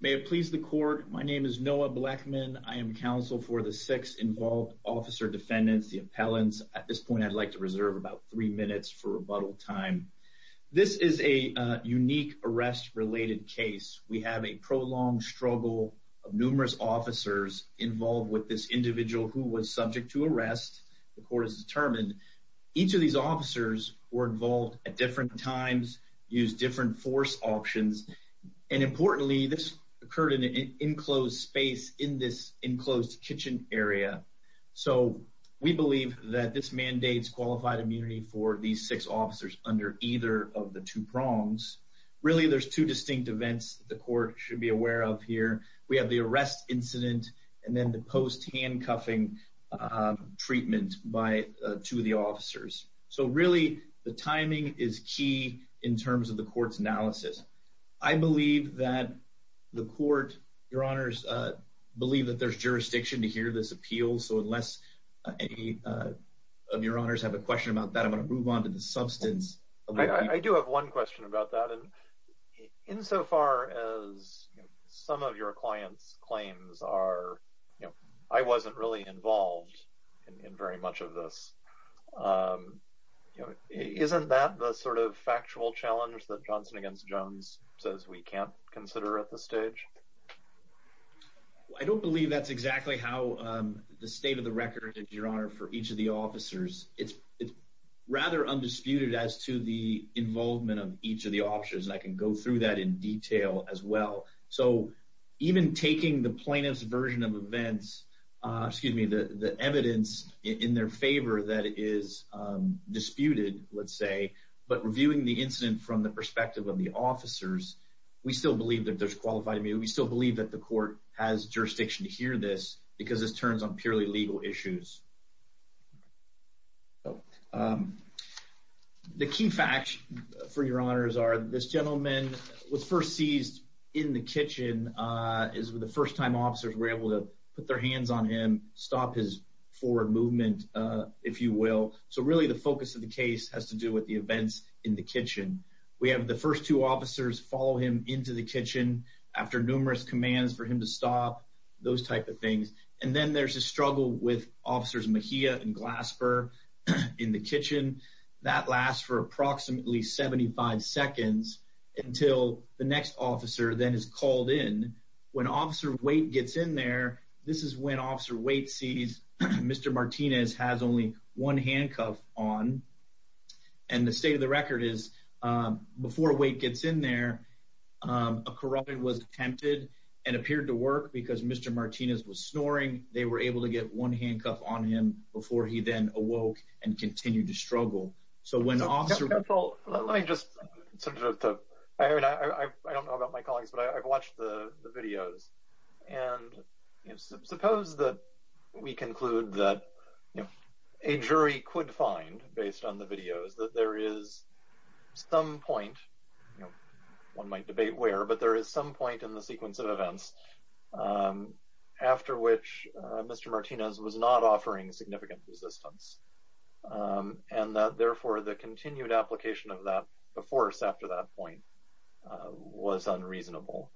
May it please the court. My name is Noah Blackman. I am counsel for the six involved officer defendants, the appellants. At this point, I'd like to reserve about three minutes for rebuttal time. This is a unique arrest related case. We have a prolonged struggle of numerous officers involved with this individual who was subject to arrest. The court has determined each of these officers were involved at different times, used different force options, and importantly, this occurred in an enclosed space in this enclosed kitchen area. So we believe that this mandates qualified immunity for these six officers under either of the two prongs. Really, there's two distinct events the court should be aware of here. We have the arrest incident and then the post handcuffing treatment by two of the officers. So really, the timing is key in terms of the court's analysis. I believe that the court, your honors, believe that there's jurisdiction to hear this appeal. So unless any of your honors have a question about that, I'm going to move on to the substance. I do have one question about that and insofar as some of your clients' claims are, you know, I wasn't really involved in very much of this. Isn't that the sort of factual challenge that Johnson against Jones says we can't consider at this stage? I don't believe that's exactly how the state of the record is, your honor, for each of the officers. It's rather undisputed as to the involvement of each of the officers. I can go through that in detail as well. So even taking the plaintiff's version of events, excuse me, the evidence in their favor that is disputed, let's say, but reviewing the incident from the perspective of the officers, we still believe that there's qualified immunity. We still believe that the court has jurisdiction to hear this because this turns on purely legal issues. The key facts, for your honors, are this gentleman was first seized in the kitchen is the first time officers were able to put their hands on him, stop his forward movement, if you will. So really the focus of the case has to do with the events in the kitchen. We have the first two officers follow him into the kitchen after numerous commands for him to stop, those type of things. And then there's a struggle with officers Mejia and Glasper in the kitchen. That lasts for approximately 75 seconds until the next officer then is called in. When Officer Waite gets in there, this is when Officer Waite sees Mr. Martinez has only one handcuff on. And the state of the record is before Waite gets in there, a corroborant was tempted and appeared to work because Mr. Martinez was snoring. They were able to get one handcuff on him before he awoke and continued to struggle. I don't know about my colleagues, but I've watched the videos. And suppose that we conclude that a jury could find, based on the videos, that there is some point, one might debate where, but there is some point in the sequence of events after which Mr. Martinez was not offering significant resistance. And therefore the continued application of that before or after that point was unreasonable.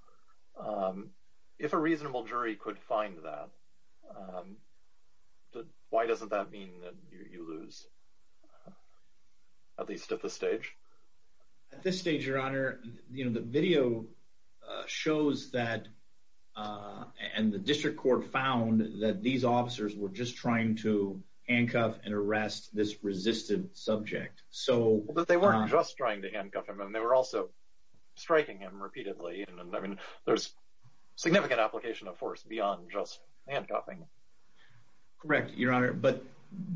If a reasonable jury could find that, why doesn't that mean that you lose, at least at this stage? At this stage, Your Honor, the video shows that and the district court found that these officers were just trying to handcuff and arrest this resistant subject. But they weren't just trying to handcuff him, and they were also striking him repeatedly. I mean, there's significant application of force beyond just handcuffing. Correct, Your Honor, but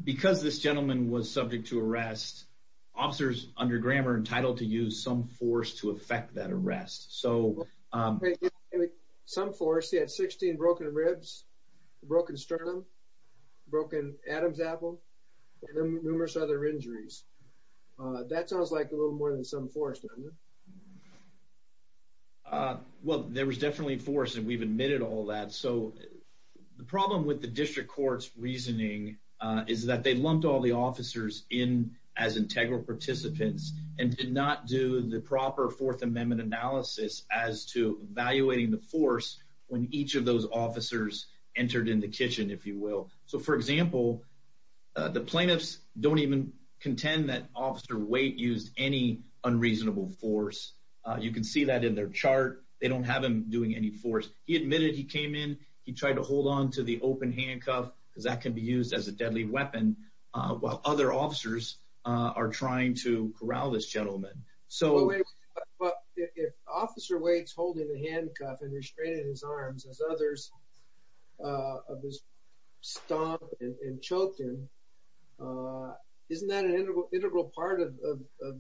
because this gentleman was subject to arrest, officers under Graham are entitled to use some force to effect that arrest. So some force, he had 16 broken ribs, broken sternum, broken Adam's apple, and numerous other injuries. That sounds like a little more than some force, doesn't it? Well, there was definitely force and we've admitted all that. So the problem with the district court's reasoning is that they lumped all the officers in as integral participants and did not do the proper Fourth Amendment analysis as to evaluating the force when each of those officers entered in the kitchen, if you will. So, for example, the plaintiffs don't even contend that Officer Waite used any unreasonable force. You can see that in their chart. They don't have him doing any force. He admitted he came in, he tried to hold on to the open handcuff, because that can be used as a deadly weapon, while other officers are trying to corral this gentleman. But if Officer Waite's holding the handcuff and restraining his arms, as others of his stomp and choked him, isn't that an integral part of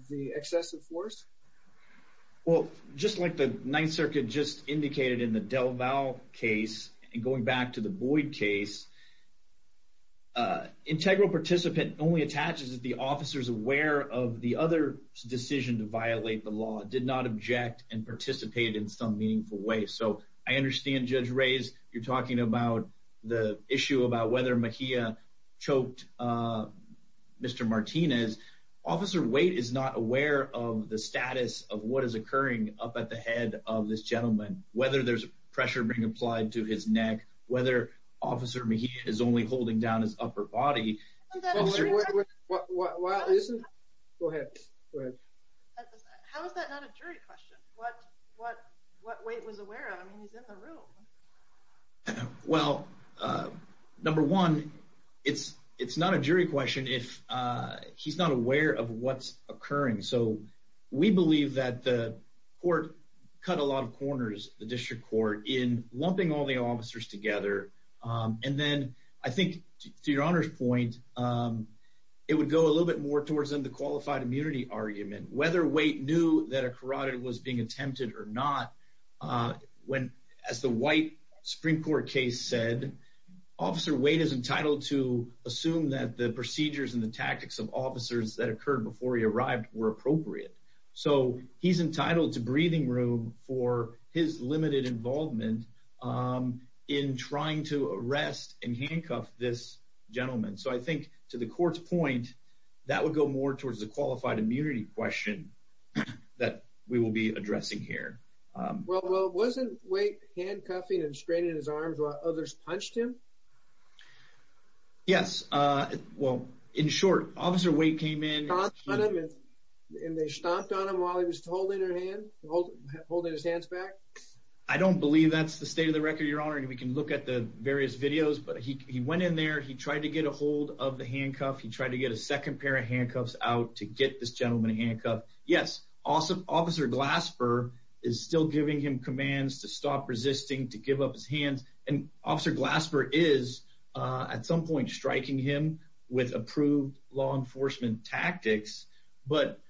the excessive force? Well, just like the Ninth Circuit just indicated in the DelVal case, and going back to the Boyd case, integral participant only attaches that the officer's aware of the other's decision to violate the law, did not object and participate in some meaningful way. So I understand, Judge Reyes, you're talking about the issue about whether Mejia choked Mr. Martinez. Officer Waite is not aware of the status of what is occurring up at the head of this gentleman, whether there's pressure being applied to his neck, whether Officer Mejia is only holding down his upper body. How is that not a jury question? What Waite was aware of? I mean, he's in the room. Well, number one, it's not a jury question if he's not aware of what's occurring. So we believe that court cut a lot of corners, the district court, in lumping all the officers together. And then, I think, to your Honor's point, it would go a little bit more towards the qualified immunity argument. Whether Waite knew that a carotid was being attempted or not, as the white Supreme Court case said, Officer Waite is entitled to assume that the procedures and the tactics of breathing room for his limited involvement in trying to arrest and handcuff this gentleman. So I think, to the court's point, that would go more towards the qualified immunity question that we will be addressing here. Well, wasn't Waite handcuffing and straining his arms while others punched him? Yes. Well, in short, Officer Waite came in. And they stomped on him while he was holding his hands back? I don't believe that's the state of the record, Your Honor. And we can look at the various videos. But he went in there. He tried to get a hold of the handcuff. He tried to get a second pair of handcuffs out to get this gentleman handcuffed. Yes. Officer Glasper is still giving him commands to stop resisting, to give up his hands. And Officer Glasper is, at some point, striking him with approved law enforcement tactics. But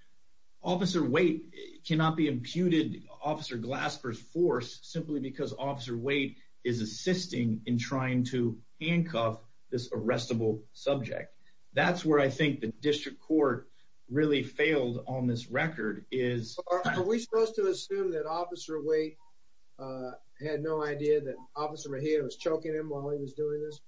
Officer Waite cannot be imputed Officer Glasper's force simply because Officer Waite is assisting in trying to handcuff this arrestable subject. That's where I think the district court really failed on this record. Are we supposed to assume that Officer Waite had no idea that Officer Mejia was choking him while he was doing this?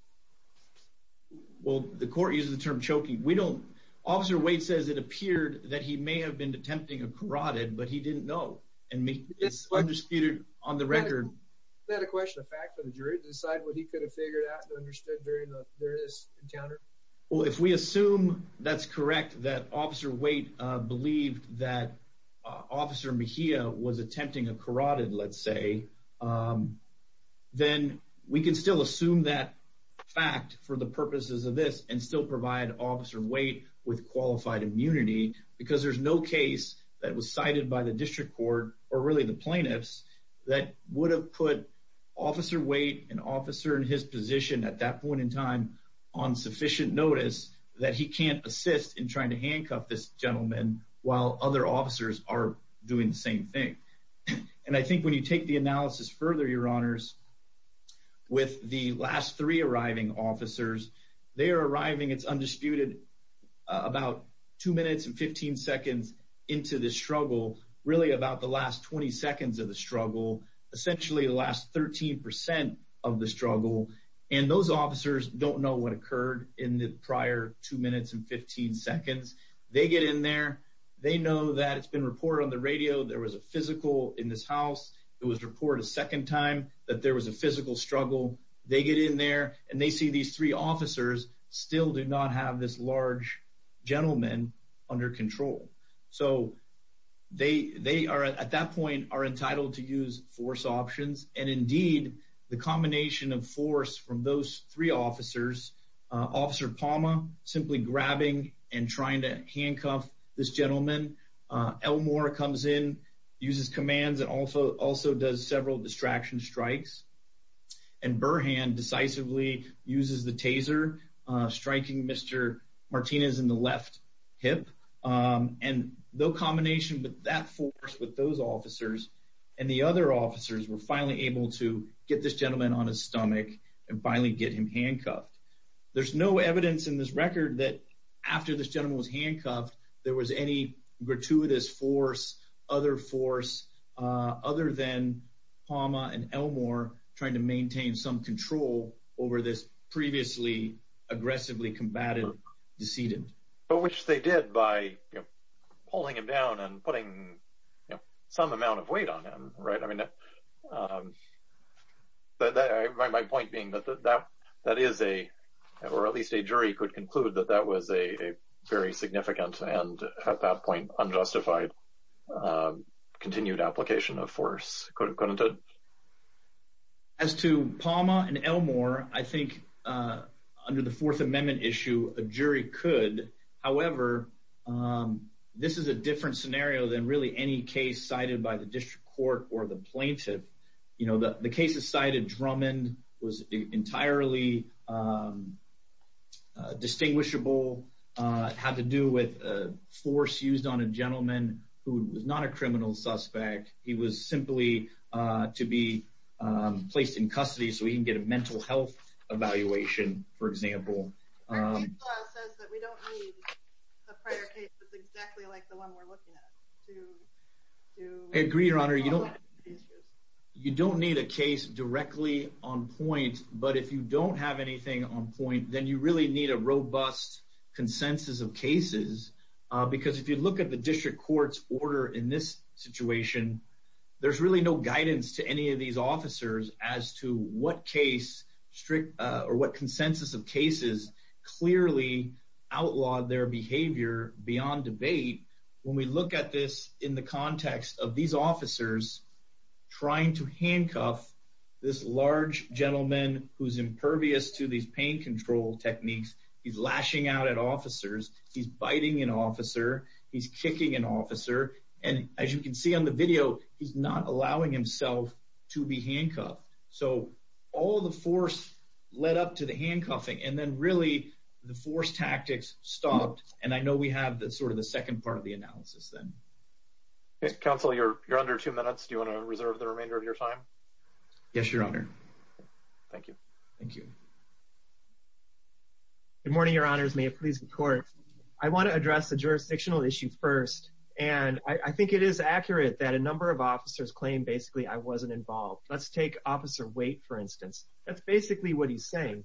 Well, the court uses the term choking. We don't. Officer Waite says it appeared that he may have been attempting a carotid, but he didn't know. And it's undisputed on the record. Is that a question of fact for the jury to decide what he could have figured out and understood during this encounter? Well, if we assume that's correct, that Officer Waite believed that Officer Mejia was attempting a carotid, let's say, then we can still assume that fact for the purposes of this and still provide Officer Waite with qualified immunity because there's no case that was cited by the district court or really the plaintiffs that would have put Officer Waite and Officer in his position at that point in time on sufficient notice that he can't assist in trying to handcuff this gentleman while other officers are doing the same thing. And I think when you take the analysis further, your honors, with the last three arriving officers, they are arriving, it's undisputed, about two minutes and 15 seconds into the struggle, really about the last 20 seconds of the struggle, essentially the last 13 percent of the struggle. And those officers don't know what occurred in the prior two minutes and 15 seconds. They get in there. They know that it's been reported on the radio there was a physical in this house. It was reported a second time that there was a physical struggle. They get in there and they see these three officers still do not have this large gentleman under control. So they are, at that point, are entitled to use force options. And indeed, the combination of force from those three officers, Officer Palma simply grabbing and trying to handcuff this gentleman. Elmore comes in, uses commands and also does several distraction strikes. And Burhan decisively uses the taser, striking Mr. Martinez in the left hip. And the combination of that force with those officers and the other officers were finally able to get this gentleman on his stomach and finally get him handcuffed. There's no evidence in this record that after this gentleman was handcuffed, there was any gratuitous force, other force, other than Palma and Elmore trying to maintain some control over this previously aggressively combated decedent. But which they did by pulling him down and putting some amount of weight on him, right? I mean, my point being that that is a, or at least a jury could conclude that that was a very significant and at that point unjustified continued application of force. As to Palma and Elmore, I think under the Fourth Amendment issue, a jury could. However, this is a different scenario than really any case cited by the district court or the plaintiff. You know, the cases cited Drummond was entirely distinguishable, had to do with force used on a gentleman who was not a criminal suspect. He was simply to be placed in custody so he can get a mental health evaluation, for example. I agree, Your Honor. You don't need a case directly on point, but if you don't have anything on point, then you really need a robust consensus of cases. Because if you look at the district court's order in this situation, there's really no guidance to any of these officers as to what case strict, or what consensus of cases clearly outlawed their behavior beyond debate. When we look at this in the context of these officers trying to handcuff this large gentleman who's impervious to these pain control techniques, he's lashing out at officers, he's biting an officer, he's kicking an officer, and as you can see on the video, he's not allowing himself to be handcuffed. So all the force led up to the handcuffing, and then really the force tactics stopped, and I know we have sort of the second part of the analysis then. Counsel, you're under two minutes. Do you want to reserve the Good morning, Your Honors. May it please the court. I want to address the jurisdictional issue first, and I think it is accurate that a number of officers claim basically I wasn't involved. Let's take Officer Waite, for instance. That's basically what he's saying.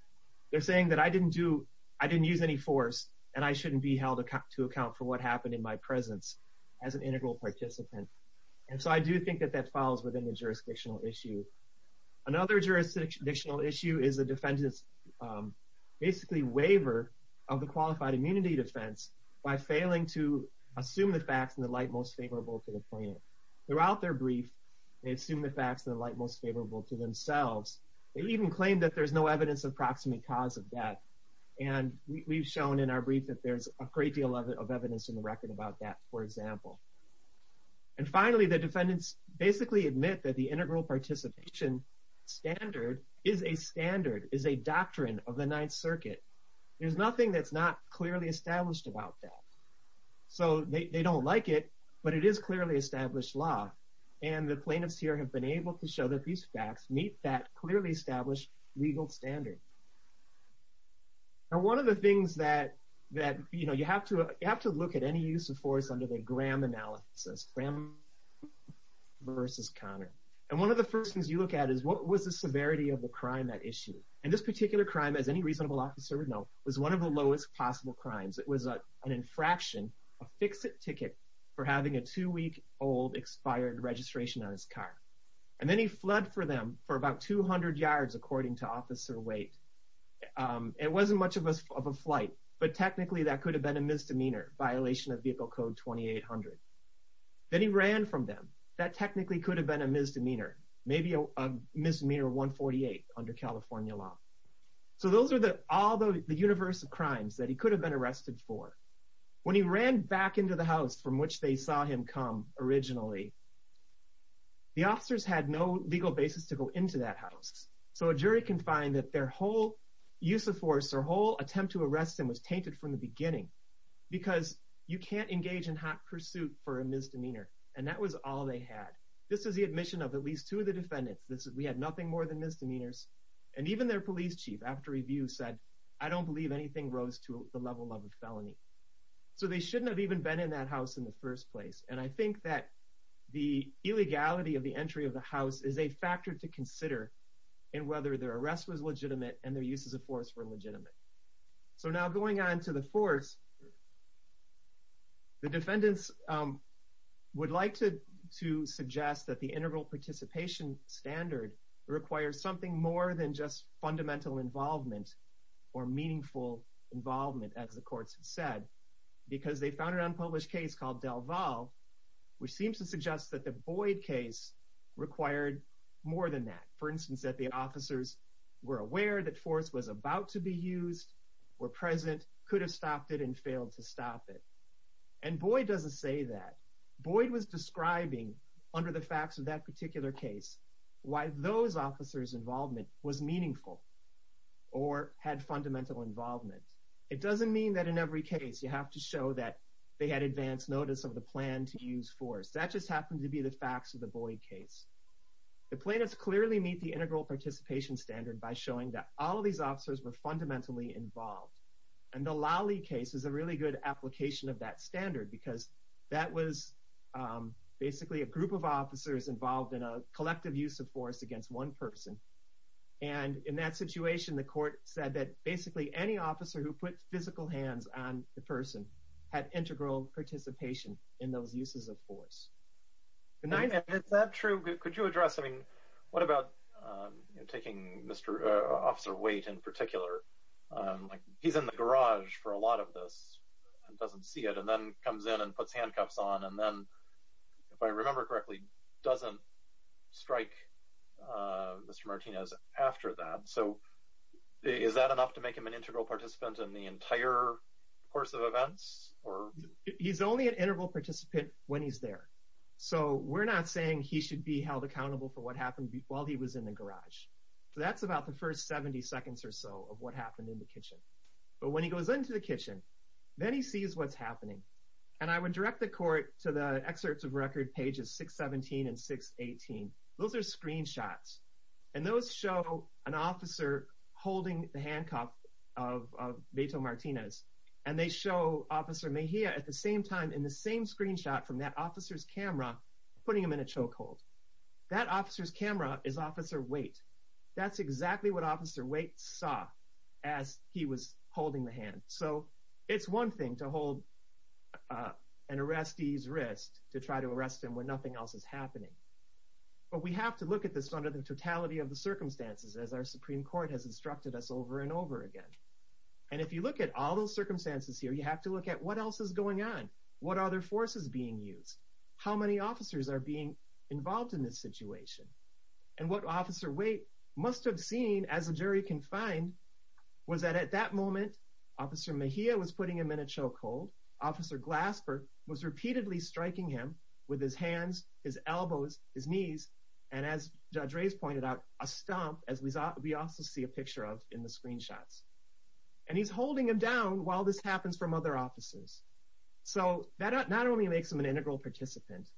They're saying that I didn't do, I didn't use any force, and I shouldn't be held to account for what happened in my presence as an integral participant. And so I do think that that falls within the jurisdictional issue. Another jurisdictional issue is the defendant's basically waiver of the qualified immunity defense by failing to assume the facts in the light most favorable to the plaintiff. Throughout their brief, they assume the facts in the light most favorable to themselves. They even claim that there's no evidence of proximate cause of death, and we've shown in our brief that there's a great deal of evidence in the record about that, for example. And finally, the defendants basically admit that the integral participation standard is a standard, is a doctrine of the Ninth Circuit. There's nothing that's not clearly established about that. So they don't like it, but it is clearly established law, and the plaintiffs here have been able to show that these facts meet that clearly established legal standard. Now, one of the things that, you know, you have to look at any use of force under the Graham analysis, Graham versus Connor. And one of the first things you look at is, what was the severity of the crime at issue? And this particular crime, as any reasonable officer would know, was one of the lowest possible crimes. It was an infraction, a fix-it ticket for having a two-week-old expired registration on his car. And then he fled for them for about 200 yards, according to officer weight. It wasn't much of a flight, but technically that could have been a misdemeanor, violation of Vehicle Code 2800. Then he ran from them. That technically could have been a misdemeanor, maybe a misdemeanor 148 under California law. So those are all the universe of crimes that he could have been arrested for. When he ran back into the house from which they saw him come originally, the officers had no legal basis to go into that house. So a jury can find that their whole use of force, their whole attempt to arrest him was tainted from the beginning, because you can't engage in hot pursuit for a misdemeanor. And that was all they had. This is the admission of at least two of the defendants. We had nothing more than misdemeanors. And even their police chief, after review, said, I don't believe anything rose to the level of a felony. So they shouldn't have even been in that house in the first place. And I think that the illegality of the entry of the and their uses of force were legitimate. So now going on to the force, the defendants would like to suggest that the integral participation standard requires something more than just fundamental involvement or meaningful involvement, as the courts have said, because they found an unpublished case called Delval, which seems to suggest that the Boyd case required more than that. For instance, that the officers were aware that force was about to be used, were present, could have stopped it, and failed to stop it. And Boyd doesn't say that. Boyd was describing, under the facts of that particular case, why those officers' involvement was meaningful or had fundamental involvement. It doesn't mean that in every case you have to show that they had advance notice of the plan to use force. That just happens to be the facts of the Boyd case. The plaintiffs clearly meet the integral participation standard by showing that all of these officers were fundamentally involved. And the Lawley case is a really good application of that standard, because that was basically a group of officers involved in a collective use of force against one person. And in that situation, the court said that basically any officer who put physical hands on the person had integral participation in those uses of force. Good night. Is that true? Could you address, I mean, what about taking Officer Waite in particular? He's in the garage for a lot of this and doesn't see it, and then comes in and puts handcuffs on, and then, if I remember correctly, doesn't strike Mr. Martinez after that. So, is that enough to make him an integral participant in the entire course of events? He's only an integral participant when he's there. So, we're not saying he should be held accountable for what happened while he was in the garage. So, that's about the first 70 seconds or so of what happened in the kitchen. But when he goes into the kitchen, then he sees what's happening. And I would direct the court to the excerpts of record pages 617 and 618. Those are at the same time in the same screenshot from that officer's camera, putting him in a choke hold. That officer's camera is Officer Waite. That's exactly what Officer Waite saw as he was holding the hand. So, it's one thing to hold an arrestee's wrist to try to arrest him when nothing else is happening. But we have to look at this under the totality of the circumstances, as our Supreme Court has instructed us over and over again. And if you look at all those circumstances here, you have to look at what else is going on. What other forces are being used? How many officers are being involved in this situation? And what Officer Waite must have seen, as a jury can find, was that at that moment, Officer Mejia was putting him in a choke hold. Officer Glasper was repeatedly striking him with his hands, his elbows, his knees, and as Judge Reyes pointed out, a stomp, as we also see a picture of in the screenshots. And he's holding him down while this happens from other officers. So, that not only makes him an integral participant,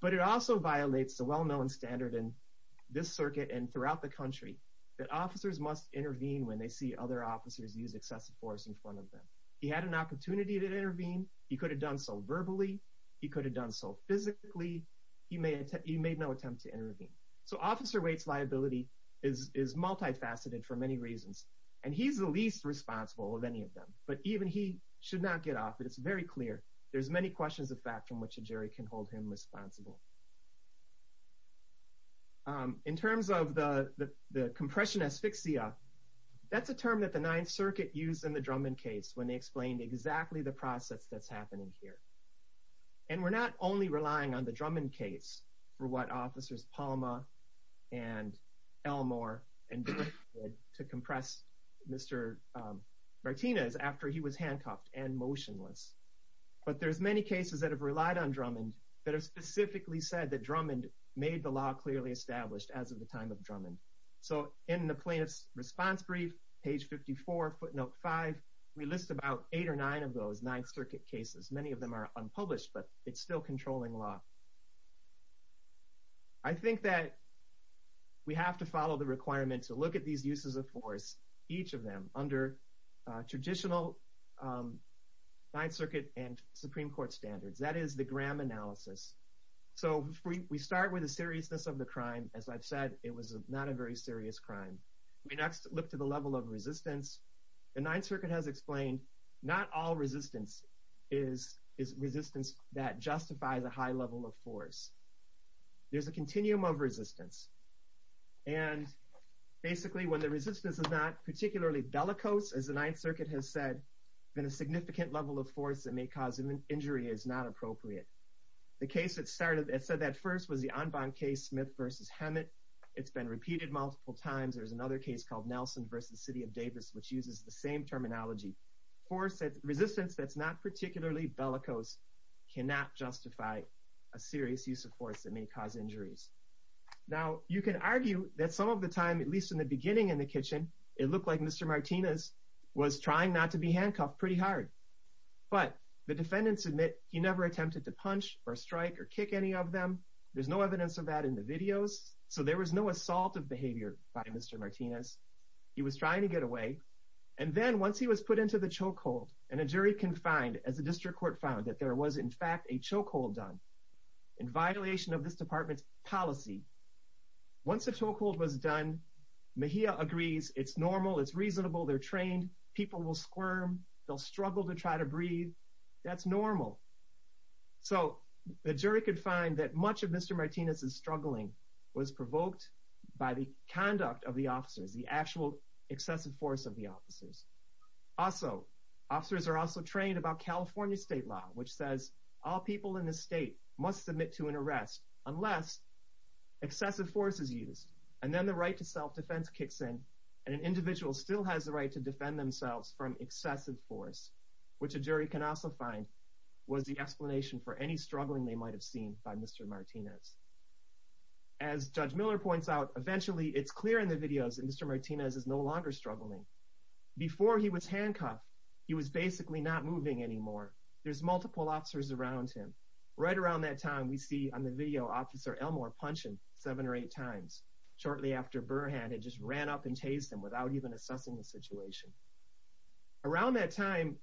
but it also violates the well-known standard in this circuit and throughout the country, that officers must intervene when they see other officers use excessive force in front of them. He had an opportunity to intervene. He could have done so verbally. He could have done so physically. He made no attempt to intervene. So, Officer Waite's liability is multifaceted for many reasons. And he's the least responsible of any of them. But even he should not get off it. It's very clear. There's many questions of fact from which a jury can hold him responsible. In terms of the compression asphyxia, that's a term that the Ninth Circuit used in the Drummond case when they explained exactly the process that's happening here. And we're not only relying on the Drummond case for what officers Palma and Elmore did to compress Mr. Martinez after he was handcuffed and motionless. But there's many cases that have relied on Drummond that have specifically said that Drummond made the law clearly established as of the time of Drummond. So, in the plaintiff's response brief, page 54, footnote 5, we list about eight or nine of those Ninth Circuit cases. Many of them are unpublished, but it's still controlling law. I think that we have to follow the requirement to look at these uses of force, each of them, under traditional Ninth Circuit and Supreme Court standards. That is the Graham analysis. So, we start with the seriousness of the crime. As I've said, it was not a very serious crime. We next look to the level of resistance. The Ninth Circuit has is resistance that justifies a high level of force. There's a continuum of resistance. And basically, when the resistance is not particularly bellicose, as the Ninth Circuit has said, then a significant level of force that may cause an injury is not appropriate. The case that started, it said that first was the Anban case, Smith v. Hammett. It's been repeated multiple times. There's another case called Nelson v. City of Davis, which uses the same terminology. Resistance that's not particularly bellicose cannot justify a serious use of force that may cause injuries. Now, you can argue that some of the time, at least in the beginning in the kitchen, it looked like Mr. Martinez was trying not to be handcuffed pretty hard. But the defendants admit he never attempted to punch or strike or kick any of them. There's no evidence of that in the videos. So, there was no assault of behavior by Mr. Martinez. He was trying to get away. And then, he was put into the chokehold. And a jury can find, as the district court found, that there was in fact a chokehold done in violation of this department's policy. Once the chokehold was done, Mejia agrees it's normal. It's reasonable. They're trained. People will squirm. They'll struggle to try to breathe. That's normal. So, the jury could find that much of Mr. Martinez's struggling was provoked by the conduct of the officers, the actual excessive force of the officers. Also, officers are also trained about California state law, which says all people in the state must submit to an arrest unless excessive force is used. And then, the right to self-defense kicks in. And an individual still has the right to defend themselves from excessive force, which a jury can also find was the explanation for any struggling they might have seen by Mr. Martinez. As Judge Miller points out, eventually, it's clear in the videos that Mr. Martinez is no handcuffed. He was basically not moving anymore. There's multiple officers around him. Right around that time, we see on the video, Officer Elmore punching seven or eight times shortly after Burr had just ran up and chased him without even assessing the situation. Around that time,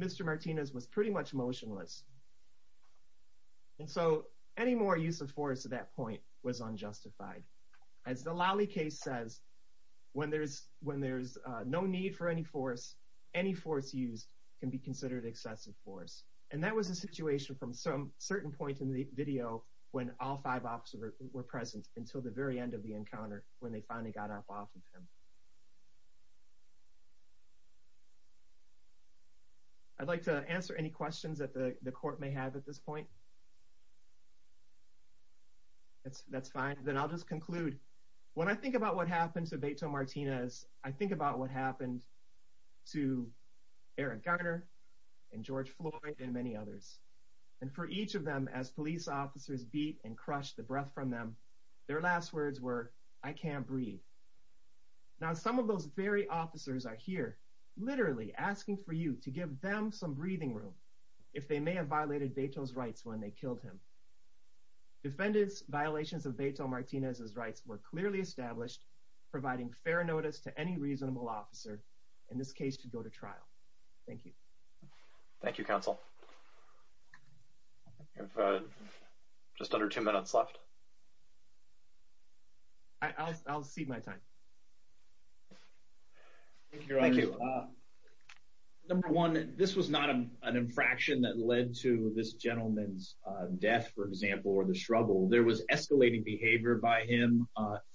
Mr. Martinez was pretty much motionless. And so, any more use of force at that point was any force used can be considered excessive force. And that was a situation from some certain point in the video when all five officers were present until the very end of the encounter, when they finally got up off of him. I'd like to answer any questions that the court may have at this point. That's fine. Then, I'll just conclude. When I think about what happened to Beto Martinez, I think about what happened to Eric Garner and George Floyd and many others. And for each of them, as police officers beat and crushed the breath from them, their last words were, I can't breathe. Now, some of those very officers are here literally asking for you to give them some breathing room if they may have violated Beto's rights when they killed him. Defendant's violations of Beto Martinez's rights were clearly established, providing fair notice to any reasonable officer, in this case, to go to trial. Thank you. Thank you, counsel. We have just under two minutes left. I'll cede my time. Thank you, your honor. Number one, this was not an infraction that led to this gentleman's death, for example, or the struggle. There was escalating behavior by him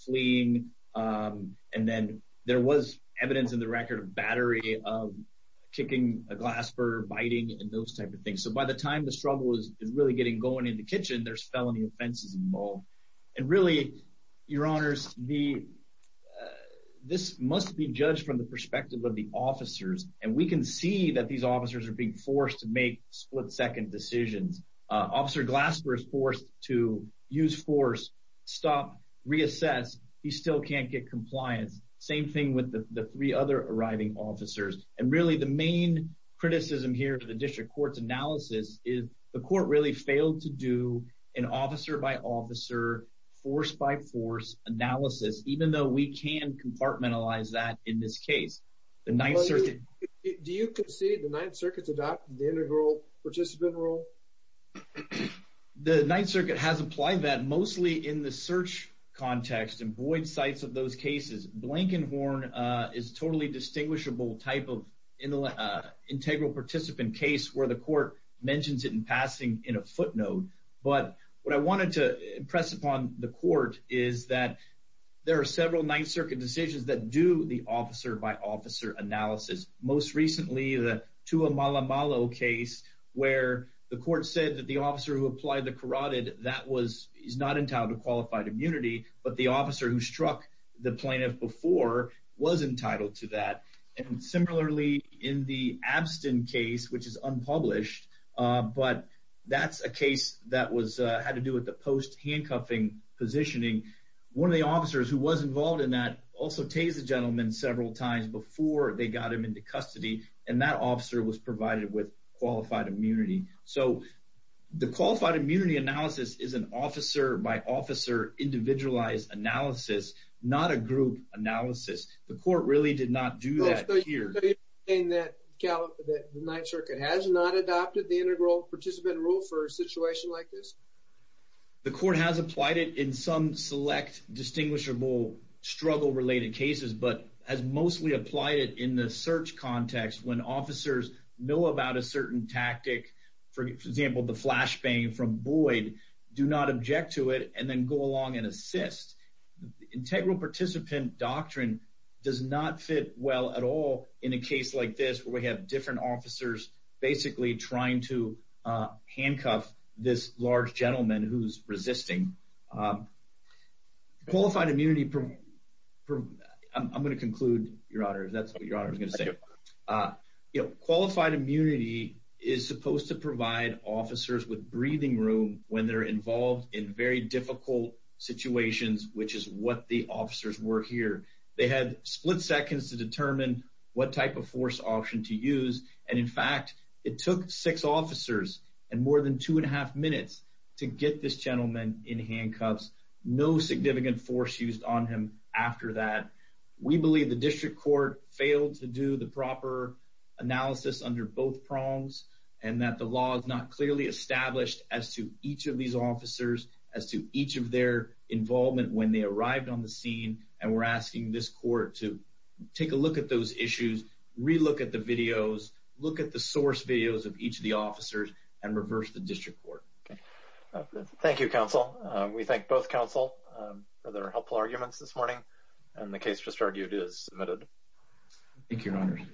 fleeing. And then, there was evidence in the record of battery, of kicking a glass burner, biting, and those type of things. So, by the time the struggle is really getting going in the kitchen, there's felony offenses involved. And really, your honors, this must be judged from the perspective of the officers. And we can see that these officers are being forced to make split-second decisions. Officer Glasper is forced to use force, stop, reassess. He still can't get compliance. Same thing with the three other arriving officers. And really, the main criticism here to the district court's analysis is the court really failed to do an officer-by-officer, force-by-force analysis, even though we can compartmentalize that in this case. Do you concede the Ninth Circuit's adopted the integral participant rule? The Ninth Circuit has applied that mostly in the search context and void sites of those cases. Blankenhorn is a totally distinguishable type of integral participant case where the court mentions it in passing in a footnote. But what I wanted to impress upon the court is that there are several Ninth Circuit decisions that do the officer-by-officer analysis. Most recently, the Tua Malamalo case, where the court said that the officer who applied the was entitled to that. And similarly, in the Abstin case, which is unpublished, but that's a case that had to do with the post-handcuffing positioning. One of the officers who was involved in that also tased the gentleman several times before they got him into custody, and that officer was provided with qualified immunity. So the qualified immunity analysis is an officer-by-officer individualized analysis, not a group analysis. The court really did not do that here. So you're saying that the Ninth Circuit has not adopted the integral participant rule for a situation like this? The court has applied it in some select, distinguishable, struggle-related cases, but has mostly applied it in the search context when officers know about a certain tactic, for example, the flashbang from Boyd, do not object to it, and then go along and assist. The integral participant doctrine does not fit well at all in a case like this, where we have different officers basically trying to handcuff this large gentleman who's resisting. Qualified immunity...I'm going to conclude, Your Honor, that's what Your Honor was going to say. Qualified immunity is supposed to provide officers with breathing room when they're involved in very difficult situations, which is what the officers were here. They had split seconds to determine what type of force option to use, and in fact, it took six officers and more than two and a half minutes to get this gentleman in handcuffs. No significant force used on him after that. We believe the district court failed to do the proper analysis under both prongs, and that the law is not clearly established as to each of these officers, as to each of their involvement when they arrived on the scene, and we're asking this court to take a look at those issues, re-look at the videos, look at the source videos of each of the officers, and reverse the district court. Okay. Thank you, counsel. We thank both counsel for their helpful arguments this morning, and the case just argued is submitted. Thank you, Your Honor.